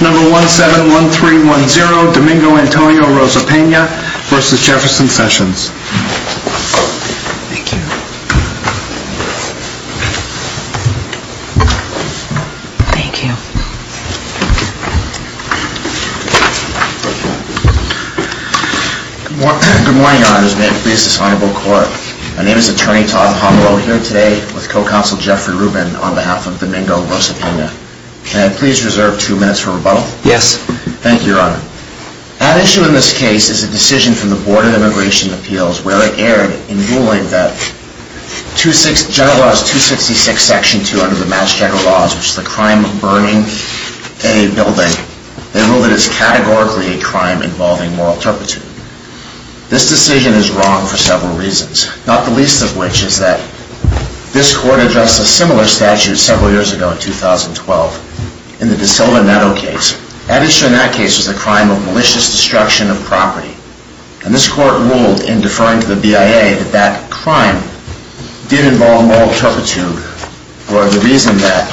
171310 Domingo Antonio Rosa Pena v. Jefferson Sessions Thank you. Thank you. Good morning, Your Honors. May it please this Honorable Court. My name is Attorney Todd Pomeroy, here today with Co-Counsel Jeffrey Rubin on behalf of Domingo Rosa Pena. May I please reserve two minutes for rebuttal? Yes. Thank you, Your Honor. At issue in this case is a decision from the Board of Immigration Appeals where it erred in ruling that General Laws 266 Section 2 under the Mass Checker Laws, which is the crime of burning a building, they rule that it is categorically a crime involving moral turpitude. This decision is wrong for several reasons, not the least of which is that this Court addressed a similar statute several years ago in 2012 in the De Silva Netto case. At issue in that case was the crime of malicious destruction of property. And this Court ruled in deferring to the BIA that that crime did involve moral turpitude for the reason that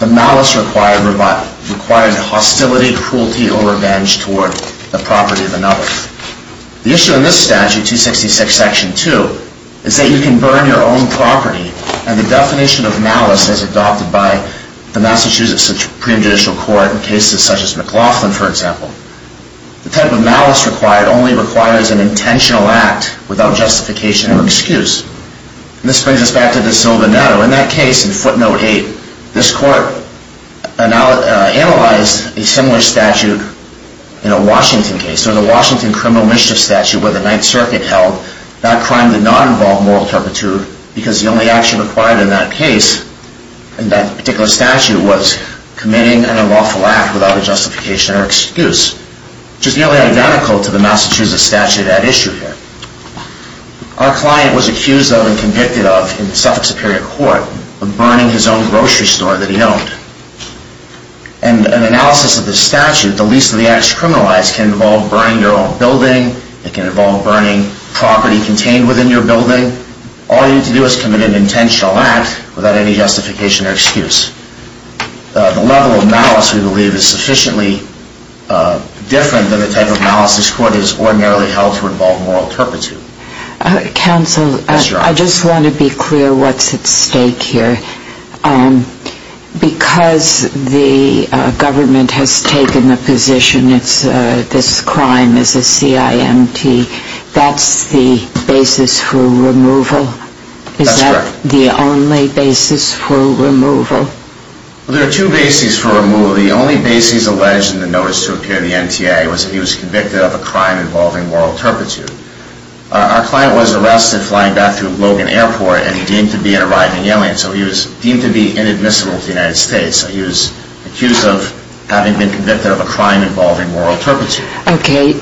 the malice required hostility, cruelty, or revenge toward the property of another. The issue in this statute, 266 Section 2, is that you can burn your own property and the definition of malice is adopted by the Massachusetts Supreme Judicial Court in cases such as McLaughlin, for example. The type of malice required only requires an intentional act without justification or excuse. This brings us back to De Silva Netto. In that case, in footnote 8, this Court analyzed a similar statute in a Washington case. So in the Washington criminal mischief statute where the Ninth Circuit held, that crime did not involve moral turpitude because the only action required in that case, in that particular statute, was committing an unlawful act without a justification or excuse, which is nearly identical to the Massachusetts statute at issue here. Our client was accused of and convicted of in Suffolk Superior Court of burning his own grocery store that he owned. And an analysis of this statute, the least of the acts criminalized, can involve burning your own building. It can involve burning property contained within your building. All you need to do is commit an intentional act without any justification or excuse. The level of malice we believe is sufficiently different than the type of malice this Court has ordinarily held to involve moral turpitude. Counsel, I just want to be clear what's at stake here. Because the government has taken the position this crime is a CIMT, that's the basis for removal? That's correct. Is that the only basis for removal? There are two bases for removal. The only basis alleged in the notice to appear in the NTA was that he was convicted of a crime involving moral turpitude. Our client was arrested flying back to Logan Airport and deemed to be an arriving alien. So he was deemed to be inadmissible to the United States. He was accused of having been convicted of a crime involving moral turpitude. Okay.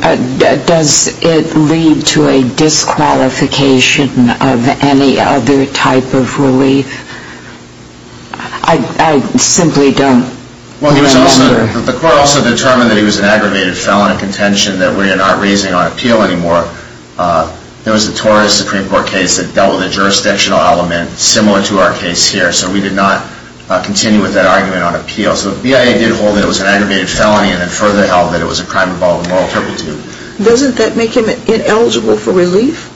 Does it lead to a disqualification of any other type of relief? I simply don't remember. Well, the Court also determined that he was an aggravated felon in contention that we are not raising on appeal anymore. There was a Torres Supreme Court case that dealt with a jurisdictional element similar to our case here. So we did not continue with that argument on appeal. So the BIA did hold that it was an aggravated felony and then further held that it was a crime involving moral turpitude. Doesn't that make him ineligible for relief,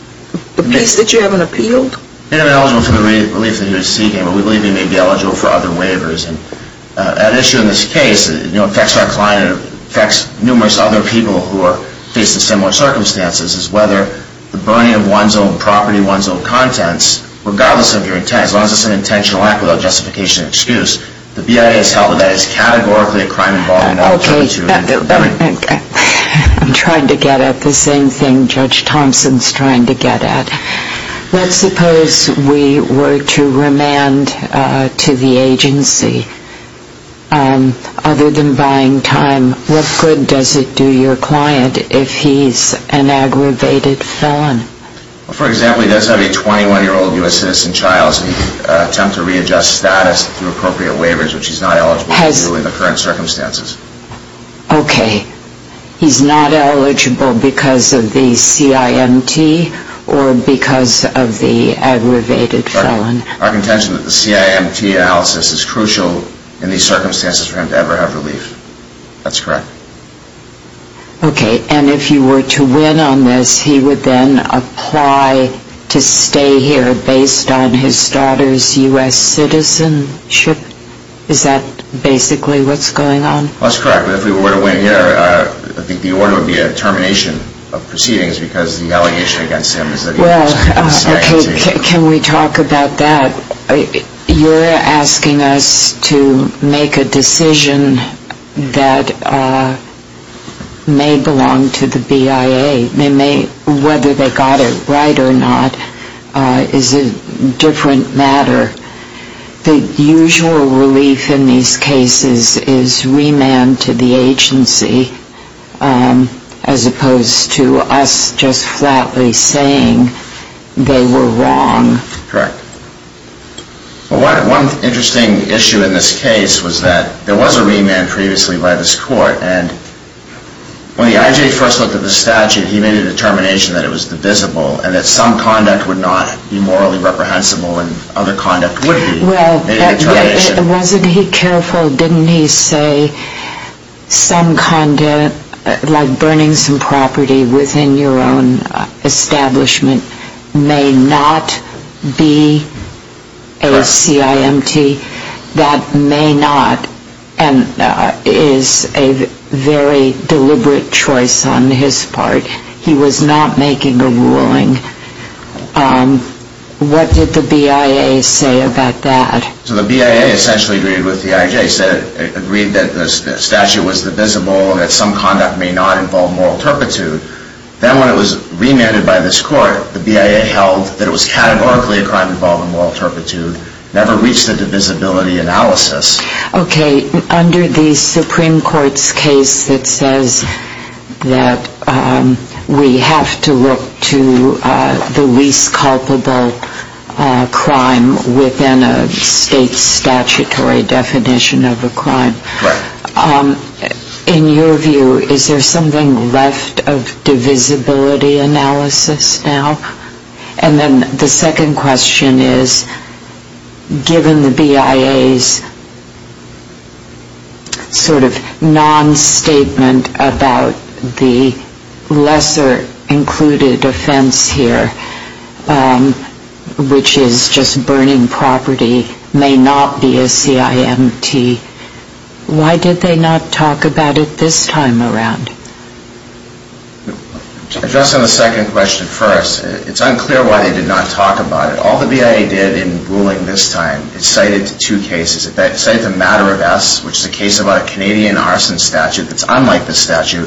the piece that you haven't appealed? Ineligible for the relief that he was seeking, but we believe he may be eligible for other waivers. An issue in this case that affects our client and affects numerous other people who are facing similar circumstances is whether the burning of one's own property, one's own contents, regardless of your intent, as long as it's an intentional act without justification or excuse, the BIA has held that it is categorically a crime involving moral turpitude. Okay. I'm trying to get at the same thing Judge Thompson is trying to get at. Let's suppose we were to remand to the agency. Other than buying time, what good does it do your client if he's an aggravated felon? For example, he does have a 21-year-old U.S. citizen child, so he can attempt to readjust status through appropriate waivers, which he's not eligible to do in the current circumstances. Okay. He's not eligible because of the CIMT or because of the aggravated felon? Our contention is that the CIMT analysis is crucial in these circumstances for him to ever have relief. That's correct. Okay. And if you were to win on this, he would then apply to stay here based on his daughter's U.S. citizenship? Is that basically what's going on? Well, that's correct. But if we were to win here, I think the order would be a termination of proceedings because the allegation against him is that he has a U.S. citizenship. Well, can we talk about that? You're asking us to make a decision that may belong to the BIA. Whether they got it right or not is a different matter. The usual relief in these cases is remand to the agency as opposed to us just flatly saying they were wrong. Correct. One interesting issue in this case was that there was a remand previously by this court, and when the IJ first looked at the statute, he made a determination that it was divisible and that some conduct would not be morally reprehensible and other conduct would be. Well, wasn't he careful? Didn't he say some conduct, like burning some property within your own establishment, may not be a CIMT? That may not, and is a very deliberate choice on his part. He was not making a ruling. What did the BIA say about that? So the BIA essentially agreed with the IJ, said it agreed that the statute was divisible and that some conduct may not involve moral turpitude. Then when it was remanded by this court, the BIA held that it was categorically a crime involving moral turpitude, never reached a divisibility analysis. Okay, under the Supreme Court's case that says that we have to look to the least culpable crime within a state statutory definition of a crime, in your view, is there something left of divisibility analysis now? And then the second question is, given the BIA's sort of non-statement about the lesser included offense here, which is just burning property, may not be a CIMT, why did they not talk about it this time around? Addressing the second question first, it's unclear why they did not talk about it. All the BIA did in ruling this time, it cited two cases. It cited the matter of S, which is a case about a Canadian arson statute that's unlike the statute,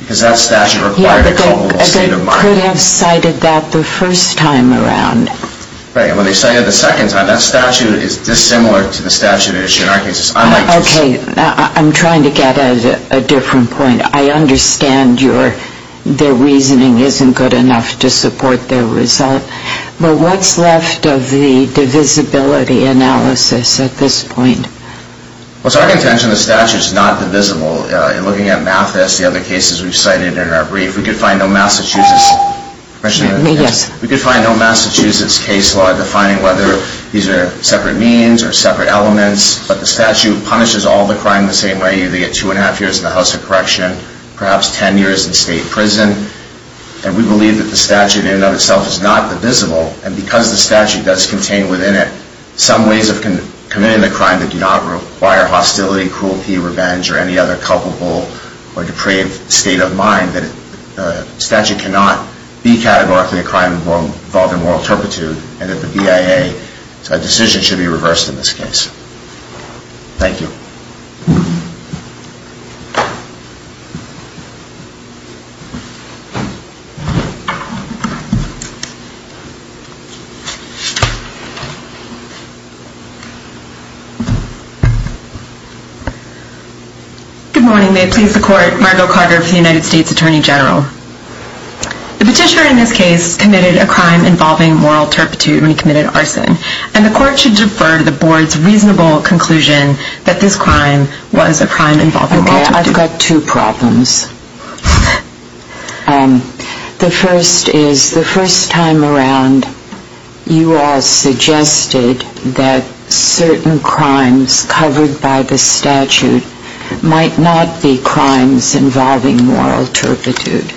because that statute required a culpable state of mind. Yeah, but they could have cited that the first time around. Right, and when they cited it the second time, that statute is dissimilar to the statute at issue in our case. It's unlike the statute. Okay, I'm trying to get at a different point. I understand their reasoning isn't good enough to support their result, but what's left of the divisibility analysis at this point? Well, it's our contention the statute's not divisible. Looking at Mathis, the other cases we've cited in our brief, we could find no Massachusetts case law defining whether these are separate means or separate elements, but the statute punishes all the crime the same way. They get two and a half years in the House of Correction, perhaps ten years in state prison, and we believe that the statute in and of itself is not divisible, and because the statute does contain within it some ways of committing the crime that do not require hostility, cruelty, revenge, or any other culpable or depraved state of mind, the statute cannot be categorically a crime involved in moral turpitude, and that the BIA's decision should be reversed in this case. Thank you. Good morning. May it please the Court, Margo Carter of the United States Attorney General. The petitioner in this case committed a crime involving moral turpitude when he committed arson, and the Court should defer to the Board's reasonable conclusion that this crime was a crime involving moral turpitude. Okay, I've got two problems. The first is, the first time around, you all suggested that certain crimes covered by the statute might not be crimes involving moral turpitude.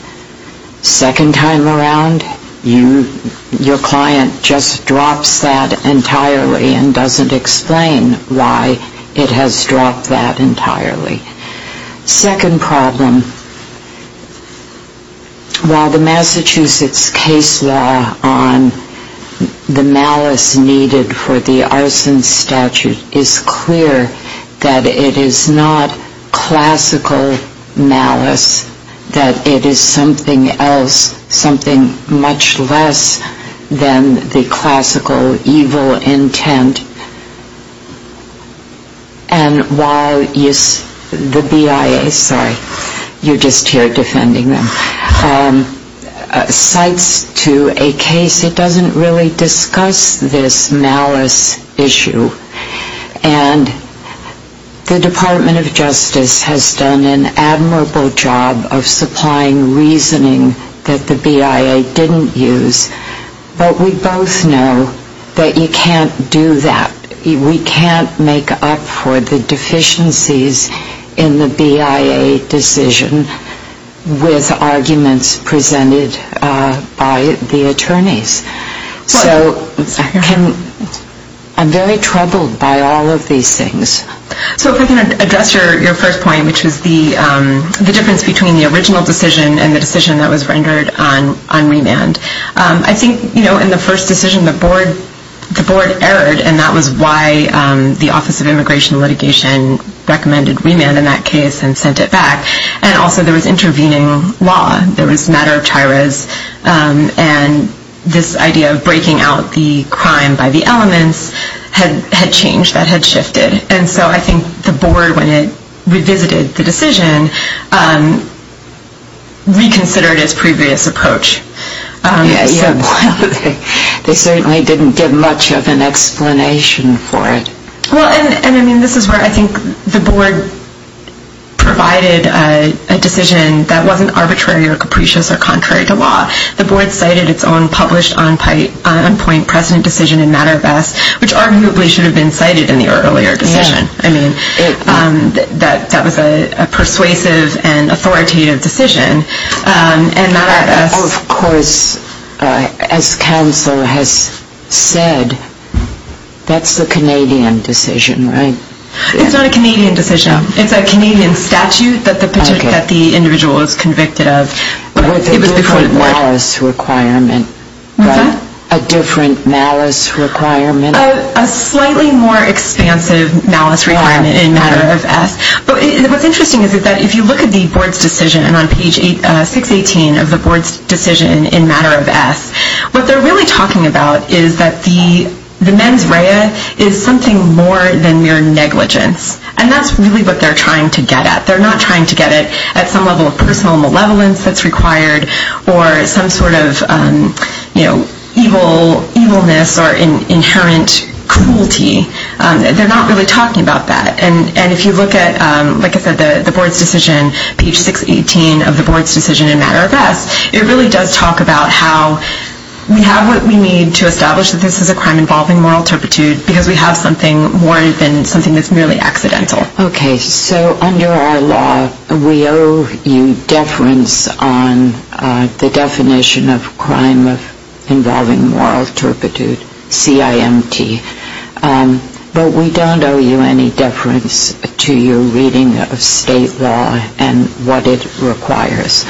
Second time around, your client just drops that entirely and doesn't explain why it has dropped that entirely. Second problem, while the Massachusetts case law on the malice needed for the arson statute is clear that it is not classical malice, that it is something else, something much less than the classical evil intent, and while the BIA, sorry, you're just here defending them, cites to a case, it doesn't really discuss this malice issue. And the Department of Justice has done an admirable job of supplying reasoning that the BIA didn't use, but we both know that you can't do that. We can't make up for the deficiencies in the BIA decision with arguments presented by the attorneys. So I'm very troubled by all of these things. So if I can address your first point, which was the difference between the original decision and the decision that was rendered on remand. I think in the first decision, the board erred, and that was why the Office of Immigration Litigation recommended remand in that case and sent it back, and also there was intervening law. There was matter of tiras, and this idea of breaking out the crime by the elements had changed, that had shifted. And so I think the board, when it revisited the decision, reconsidered its previous approach. They certainly didn't give much of an explanation for it. Well, and I mean, this is where I think the board provided a decision that wasn't arbitrary or capricious or contrary to law. The board cited its own published on-point precedent decision in matter of best, which arguably should have been cited in the earlier decision. I mean, that was a persuasive and authoritative decision. And matter of best... Of course, as counsel has said, that's the Canadian decision, right? It's not a Canadian decision. It's a Canadian statute that the individual is convicted of. With a different malice requirement. What's that? A different malice requirement. A slightly more expansive malice requirement in matter of best. But what's interesting is that if you look at the board's decision on page 618 of the board's decision in matter of best, what they're really talking about is that the mens rea is something more than mere negligence. And that's really what they're trying to get at. They're not trying to get it at some level of personal malevolence that's required or some sort of evilness or inherent cruelty. They're not really talking about that. And if you look at, like I said, the board's decision, page 618 of the board's decision in matter of best, it really does talk about how we have what we need to establish that this is a crime involving moral turpitude because we have something more than something that's merely accidental. Okay. So under our law we owe you deference on the definition of crime involving moral turpitude, CIMT. But we don't owe you any deference to your reading of state law and what it requires.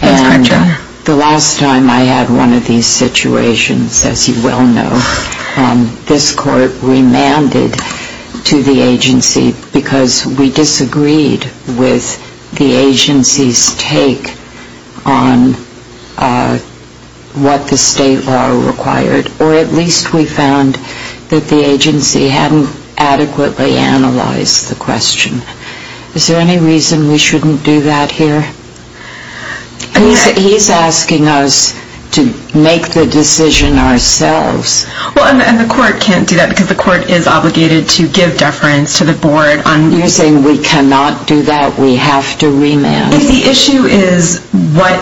That's correct, Your Honor. The last time I had one of these situations, as you well know, this court remanded to the agency because we disagreed with the agency's take on what the state law required, or at least we found that the agency hadn't adequately analyzed the question. Is there any reason we shouldn't do that here? He's asking us to make the decision ourselves. Well, and the court can't do that because the court is obligated to give deference to the board on... You're saying we cannot do that, we have to remand. If the issue is what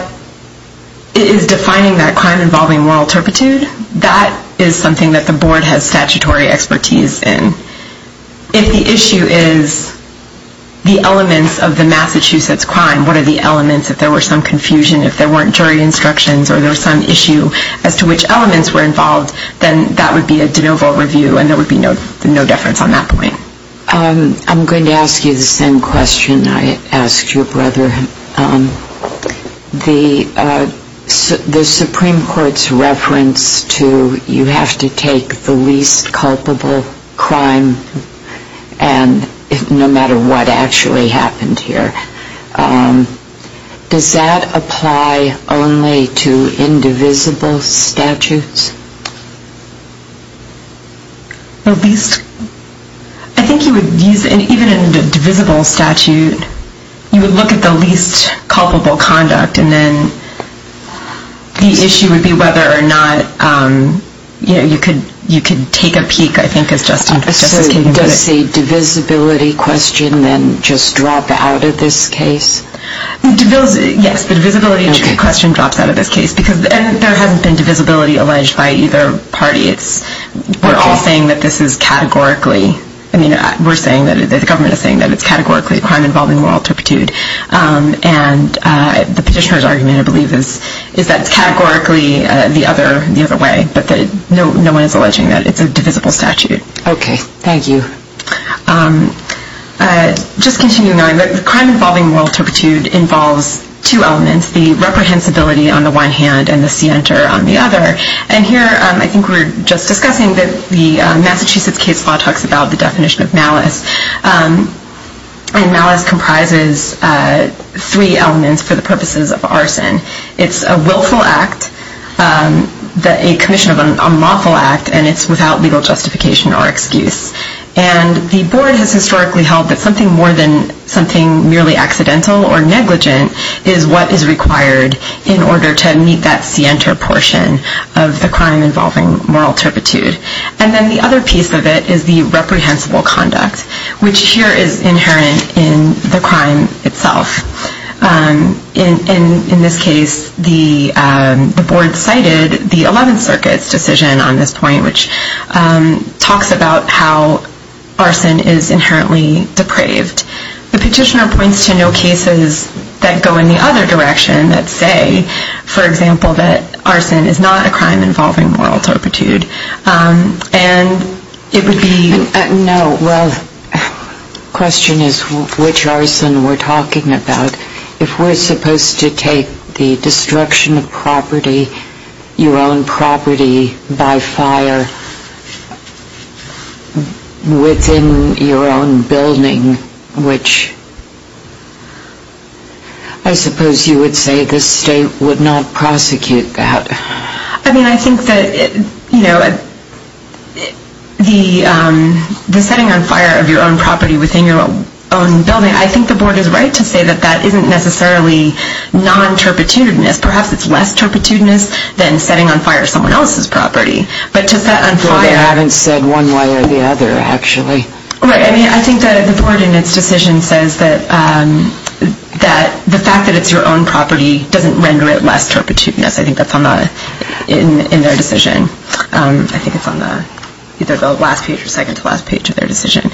is defining that crime involving moral turpitude, that is something that the board has statutory expertise in. If the issue is the elements of the Massachusetts crime, what are the elements, if there were some confusion, if there weren't jury instructions or there was some issue as to which elements were involved, then that would be a de novo review and there would be no deference on that point. I'm going to ask you the same question I asked your brother. The Supreme Court's reference to you have to take the least culpable crime and no matter what actually happened here, does that apply only to indivisible statutes? The least? I think you would use, even in a divisible statute, you would look at the least culpable conduct and then the issue would be whether or not you could take a peek, I think as Justice Kagan put it. Does the divisibility question then just drop out of this case? Yes, the divisibility question drops out of this case because there hasn't been divisibility alleged by either party. We're all saying that this is categorically, the government is saying that it's categorically a crime involving moral turpitude and the petitioner's argument, I believe, is that it's categorically the other way, but no one is alleging that it's a divisible statute. Okay, thank you. Just continuing on, the crime involving moral turpitude involves two elements, the reprehensibility on the one hand and the scienter on the other. And here, I think we were just discussing that the Massachusetts case law talks about the definition of malice. Malice comprises three elements for the purposes of arson. It's a willful act, a commission of unlawful act, and it's without legal justification or excuse. And the board has historically held that something more than something merely accidental or negligent is what is required in order to meet that scienter portion of the crime involving moral turpitude. And then the other piece of it is the reprehensible conduct, which here is inherent in the crime itself. In this case, the board cited the Eleventh Circuit's decision on this point, which talks about how arson is inherently depraved. The petitioner points to no cases that go in the other direction that say, for example, that arson is not a crime involving moral turpitude. And it would be... The question is which arson we're talking about. If we're supposed to take the destruction of property, your own property by fire within your own building, which I suppose you would say the state would not prosecute that. I mean, I think that, you know, the setting on fire of your own property within your own building, I think the board is right to say that that isn't necessarily non-turpitudinous. Perhaps it's less turpitudinous than setting on fire someone else's property. But to set on fire... Well, they haven't said one way or the other, actually. Right. I mean, I think that the board in its decision says that the fact that it's your own property doesn't render it less turpitudinous. I think that's in their decision. I think it's on either the last page or second to last page of their decision.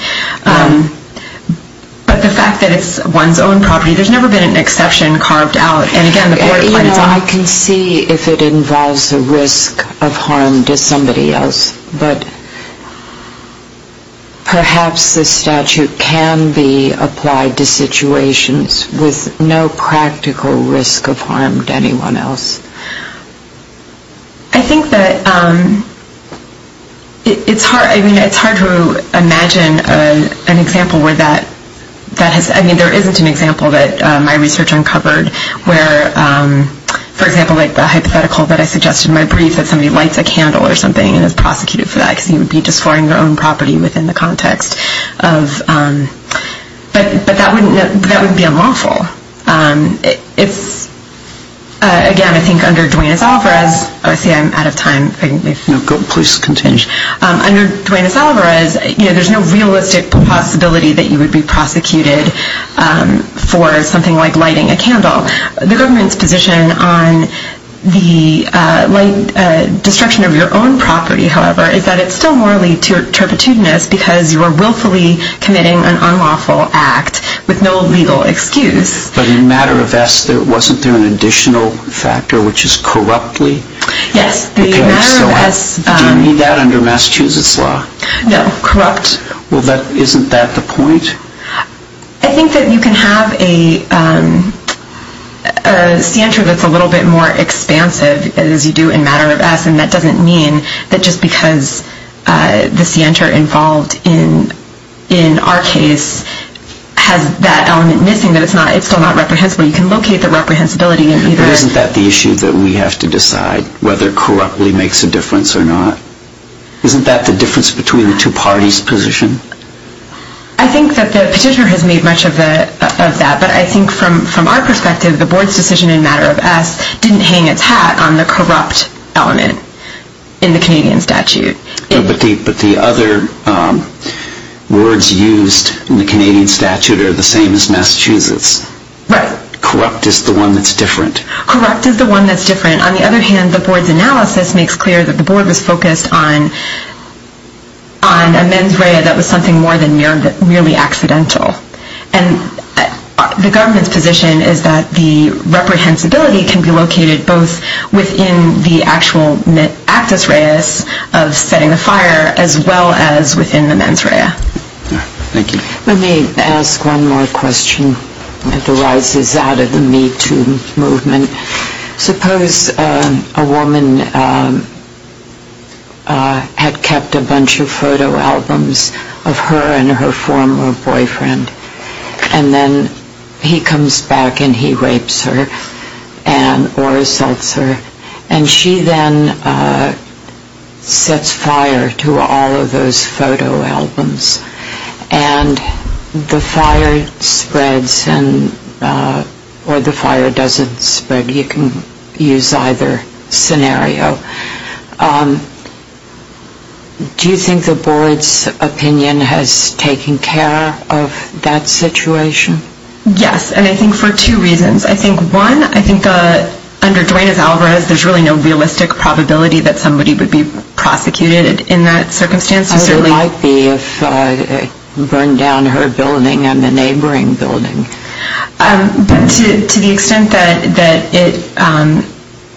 But the fact that it's one's own property, there's never been an exception carved out. And, again, the board finds out... You know, I can see if it involves a risk of harm to somebody else. But perhaps this statute can be applied to situations with no practical risk of harm to anyone else. I think that it's hard to imagine an example where that has... I mean, there isn't an example that my research uncovered where, for example, like the hypothetical that I suggested in my brief, that somebody lights a candle or something and is prosecuted for that because he would be destroying their own property within the context of... But that would be unlawful. It's... Again, I think under Duenas-Alvarez... Oh, I see I'm out of time. Please continue. Under Duenas-Alvarez, there's no realistic possibility that you would be prosecuted for something like lighting a candle. The government's position on the destruction of your own property, however, is that it's still morally turpitudinous because you are willfully committing an unlawful act with no legal excuse. But in Matter of S, wasn't there an additional factor, which is corruptly? Yes, the Matter of S... Do you mean that under Massachusetts law? No, corrupt. Well, isn't that the point? I think that you can have a scienter that's a little bit more expansive, as you do in Matter of S, and that doesn't mean that just because the scienter involved in our case has that element missing that it's still not reprehensible. You can locate the reprehensibility in either... But isn't that the issue that we have to decide, whether corruptly makes a difference or not? Isn't that the difference between the two parties' position? I think that the petitioner has made much of that, but I think from our perspective, the board's decision in Matter of S didn't hang its hat on the corrupt element in the Canadian statute. But the other words used in the Canadian statute are the same as Massachusetts. Right. Corrupt is the one that's different. Corrupt is the one that's different. On the other hand, the board's analysis makes clear that the board was focused on a mens rea that was something more than merely accidental. And the government's position is that the reprehensibility can be located both within the actual actus reus of setting the fire, as well as within the mens rea. Thank you. Let me ask one more question that arises out of the Me Too movement. Suppose a woman had kept a bunch of photo albums of her and her former boyfriend, and then he comes back and he rapes her or assaults her, and she then sets fire to all of those photo albums. And the fire spreads, or the fire doesn't spread. You can use either scenario. Do you think the board's opinion has taken care of that situation? Yes, and I think for two reasons. I think, one, I think under Duenas-Alvarez, there's really no realistic probability that somebody would be prosecuted in that circumstance. There might be if it burned down her building and the neighboring building. But to the extent that it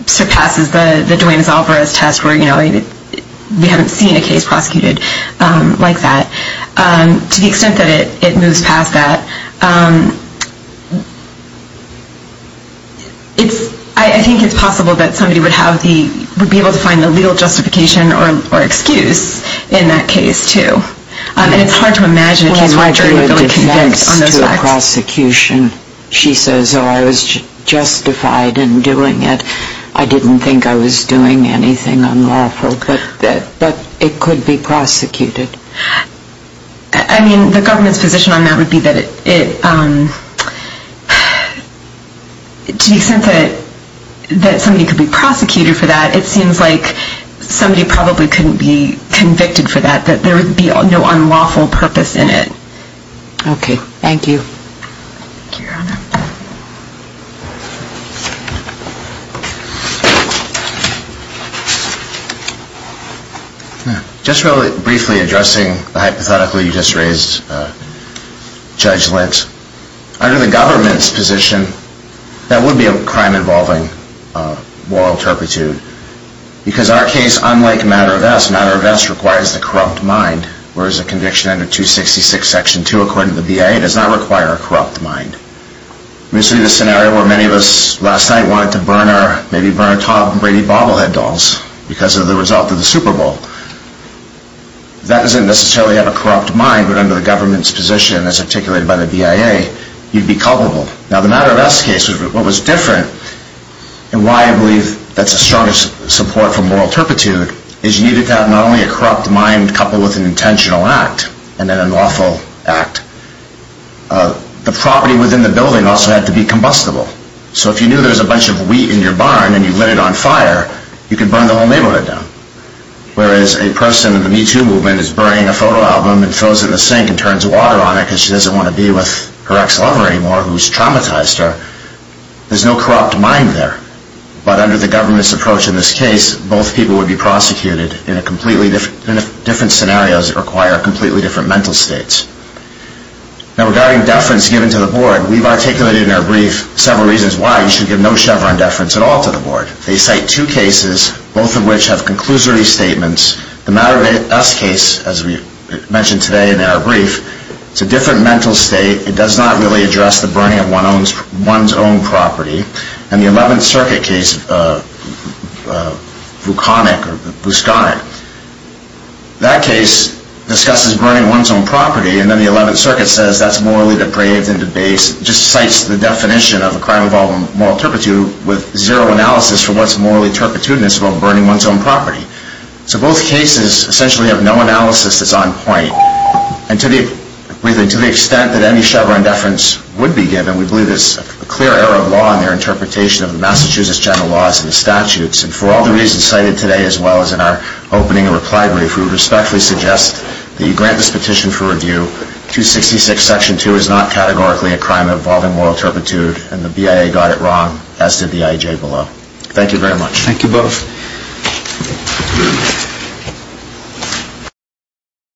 surpasses the Duenas-Alvarez test, where we haven't seen a case prosecuted like that, to the extent that it moves past that, I think it's possible that somebody would be able to find the legal justification or excuse in that case, too. And it's hard to imagine a case where a jury would really convict on those facts. Well, it might be a defense to a prosecution. She says, oh, I was justified in doing it. I didn't think I was doing anything unlawful. But it could be prosecuted. I mean, the government's position on that would be that it, to the extent that somebody could be prosecuted for that, it seems like somebody probably couldn't be convicted for that, that there would be no unlawful purpose in it. Okay. Thank you, Your Honor. Just really briefly addressing the hypothetically just raised judgment. Under the government's position, that would be a crime involving moral turpitude because our case, unlike Matter of S, Matter of S requires the corrupt mind, whereas a conviction under 266, Section 2, according to the BIA, does not require a corrupt mind. We see the scenario where many of us last night wanted to burn our, maybe burn our Tom Brady bobblehead dolls because of the result of the Super Bowl. That doesn't necessarily have a corrupt mind, but under the government's position as articulated by the BIA, you'd be culpable. Now, the Matter of S case was what was different and why I believe that's a strong support for moral turpitude is you needed to have not only a corrupt mind coupled with an intentional act and an unlawful act, the property within the building also had to be combustible. So if you knew there was a bunch of wheat in your barn and you lit it on fire, you could burn the whole neighborhood down. Whereas a person in the Me Too movement is burning a photo album and throws it in the sink and turns water on it because she doesn't want to be with her ex-lover anymore who's traumatized her. There's no corrupt mind there. But under the government's approach in this case, both people would be prosecuted in completely different scenarios that require completely different mental states. Now, regarding deference given to the board, we've articulated in our brief several reasons why you should give no Chevron deference at all to the board. They cite two cases, both of which have conclusory statements. The Matter of S case, as we mentioned today in our brief, is a different mental state. It does not really address the burning of one's own property. And the 11th Circuit case, Vuconic or Busconic, that case discusses burning one's own property and then the 11th Circuit says that's morally depraved and debased. It just cites the definition of a crime involving moral turpitude with zero analysis for what's morally turpitude and it's about burning one's own property. So both cases essentially have no analysis that's on point. And to the extent that any Chevron deference would be given, we believe there's a clear error of law in their interpretation of the Massachusetts general laws and the statutes. And for all the reasons cited today as well as in our opening and reply brief, we respectfully suggest that you grant this petition for review. 266 section 2 is not categorically a crime involving moral turpitude and the BIA got it wrong, as did the IJ below. Thank you very much. Thank you both.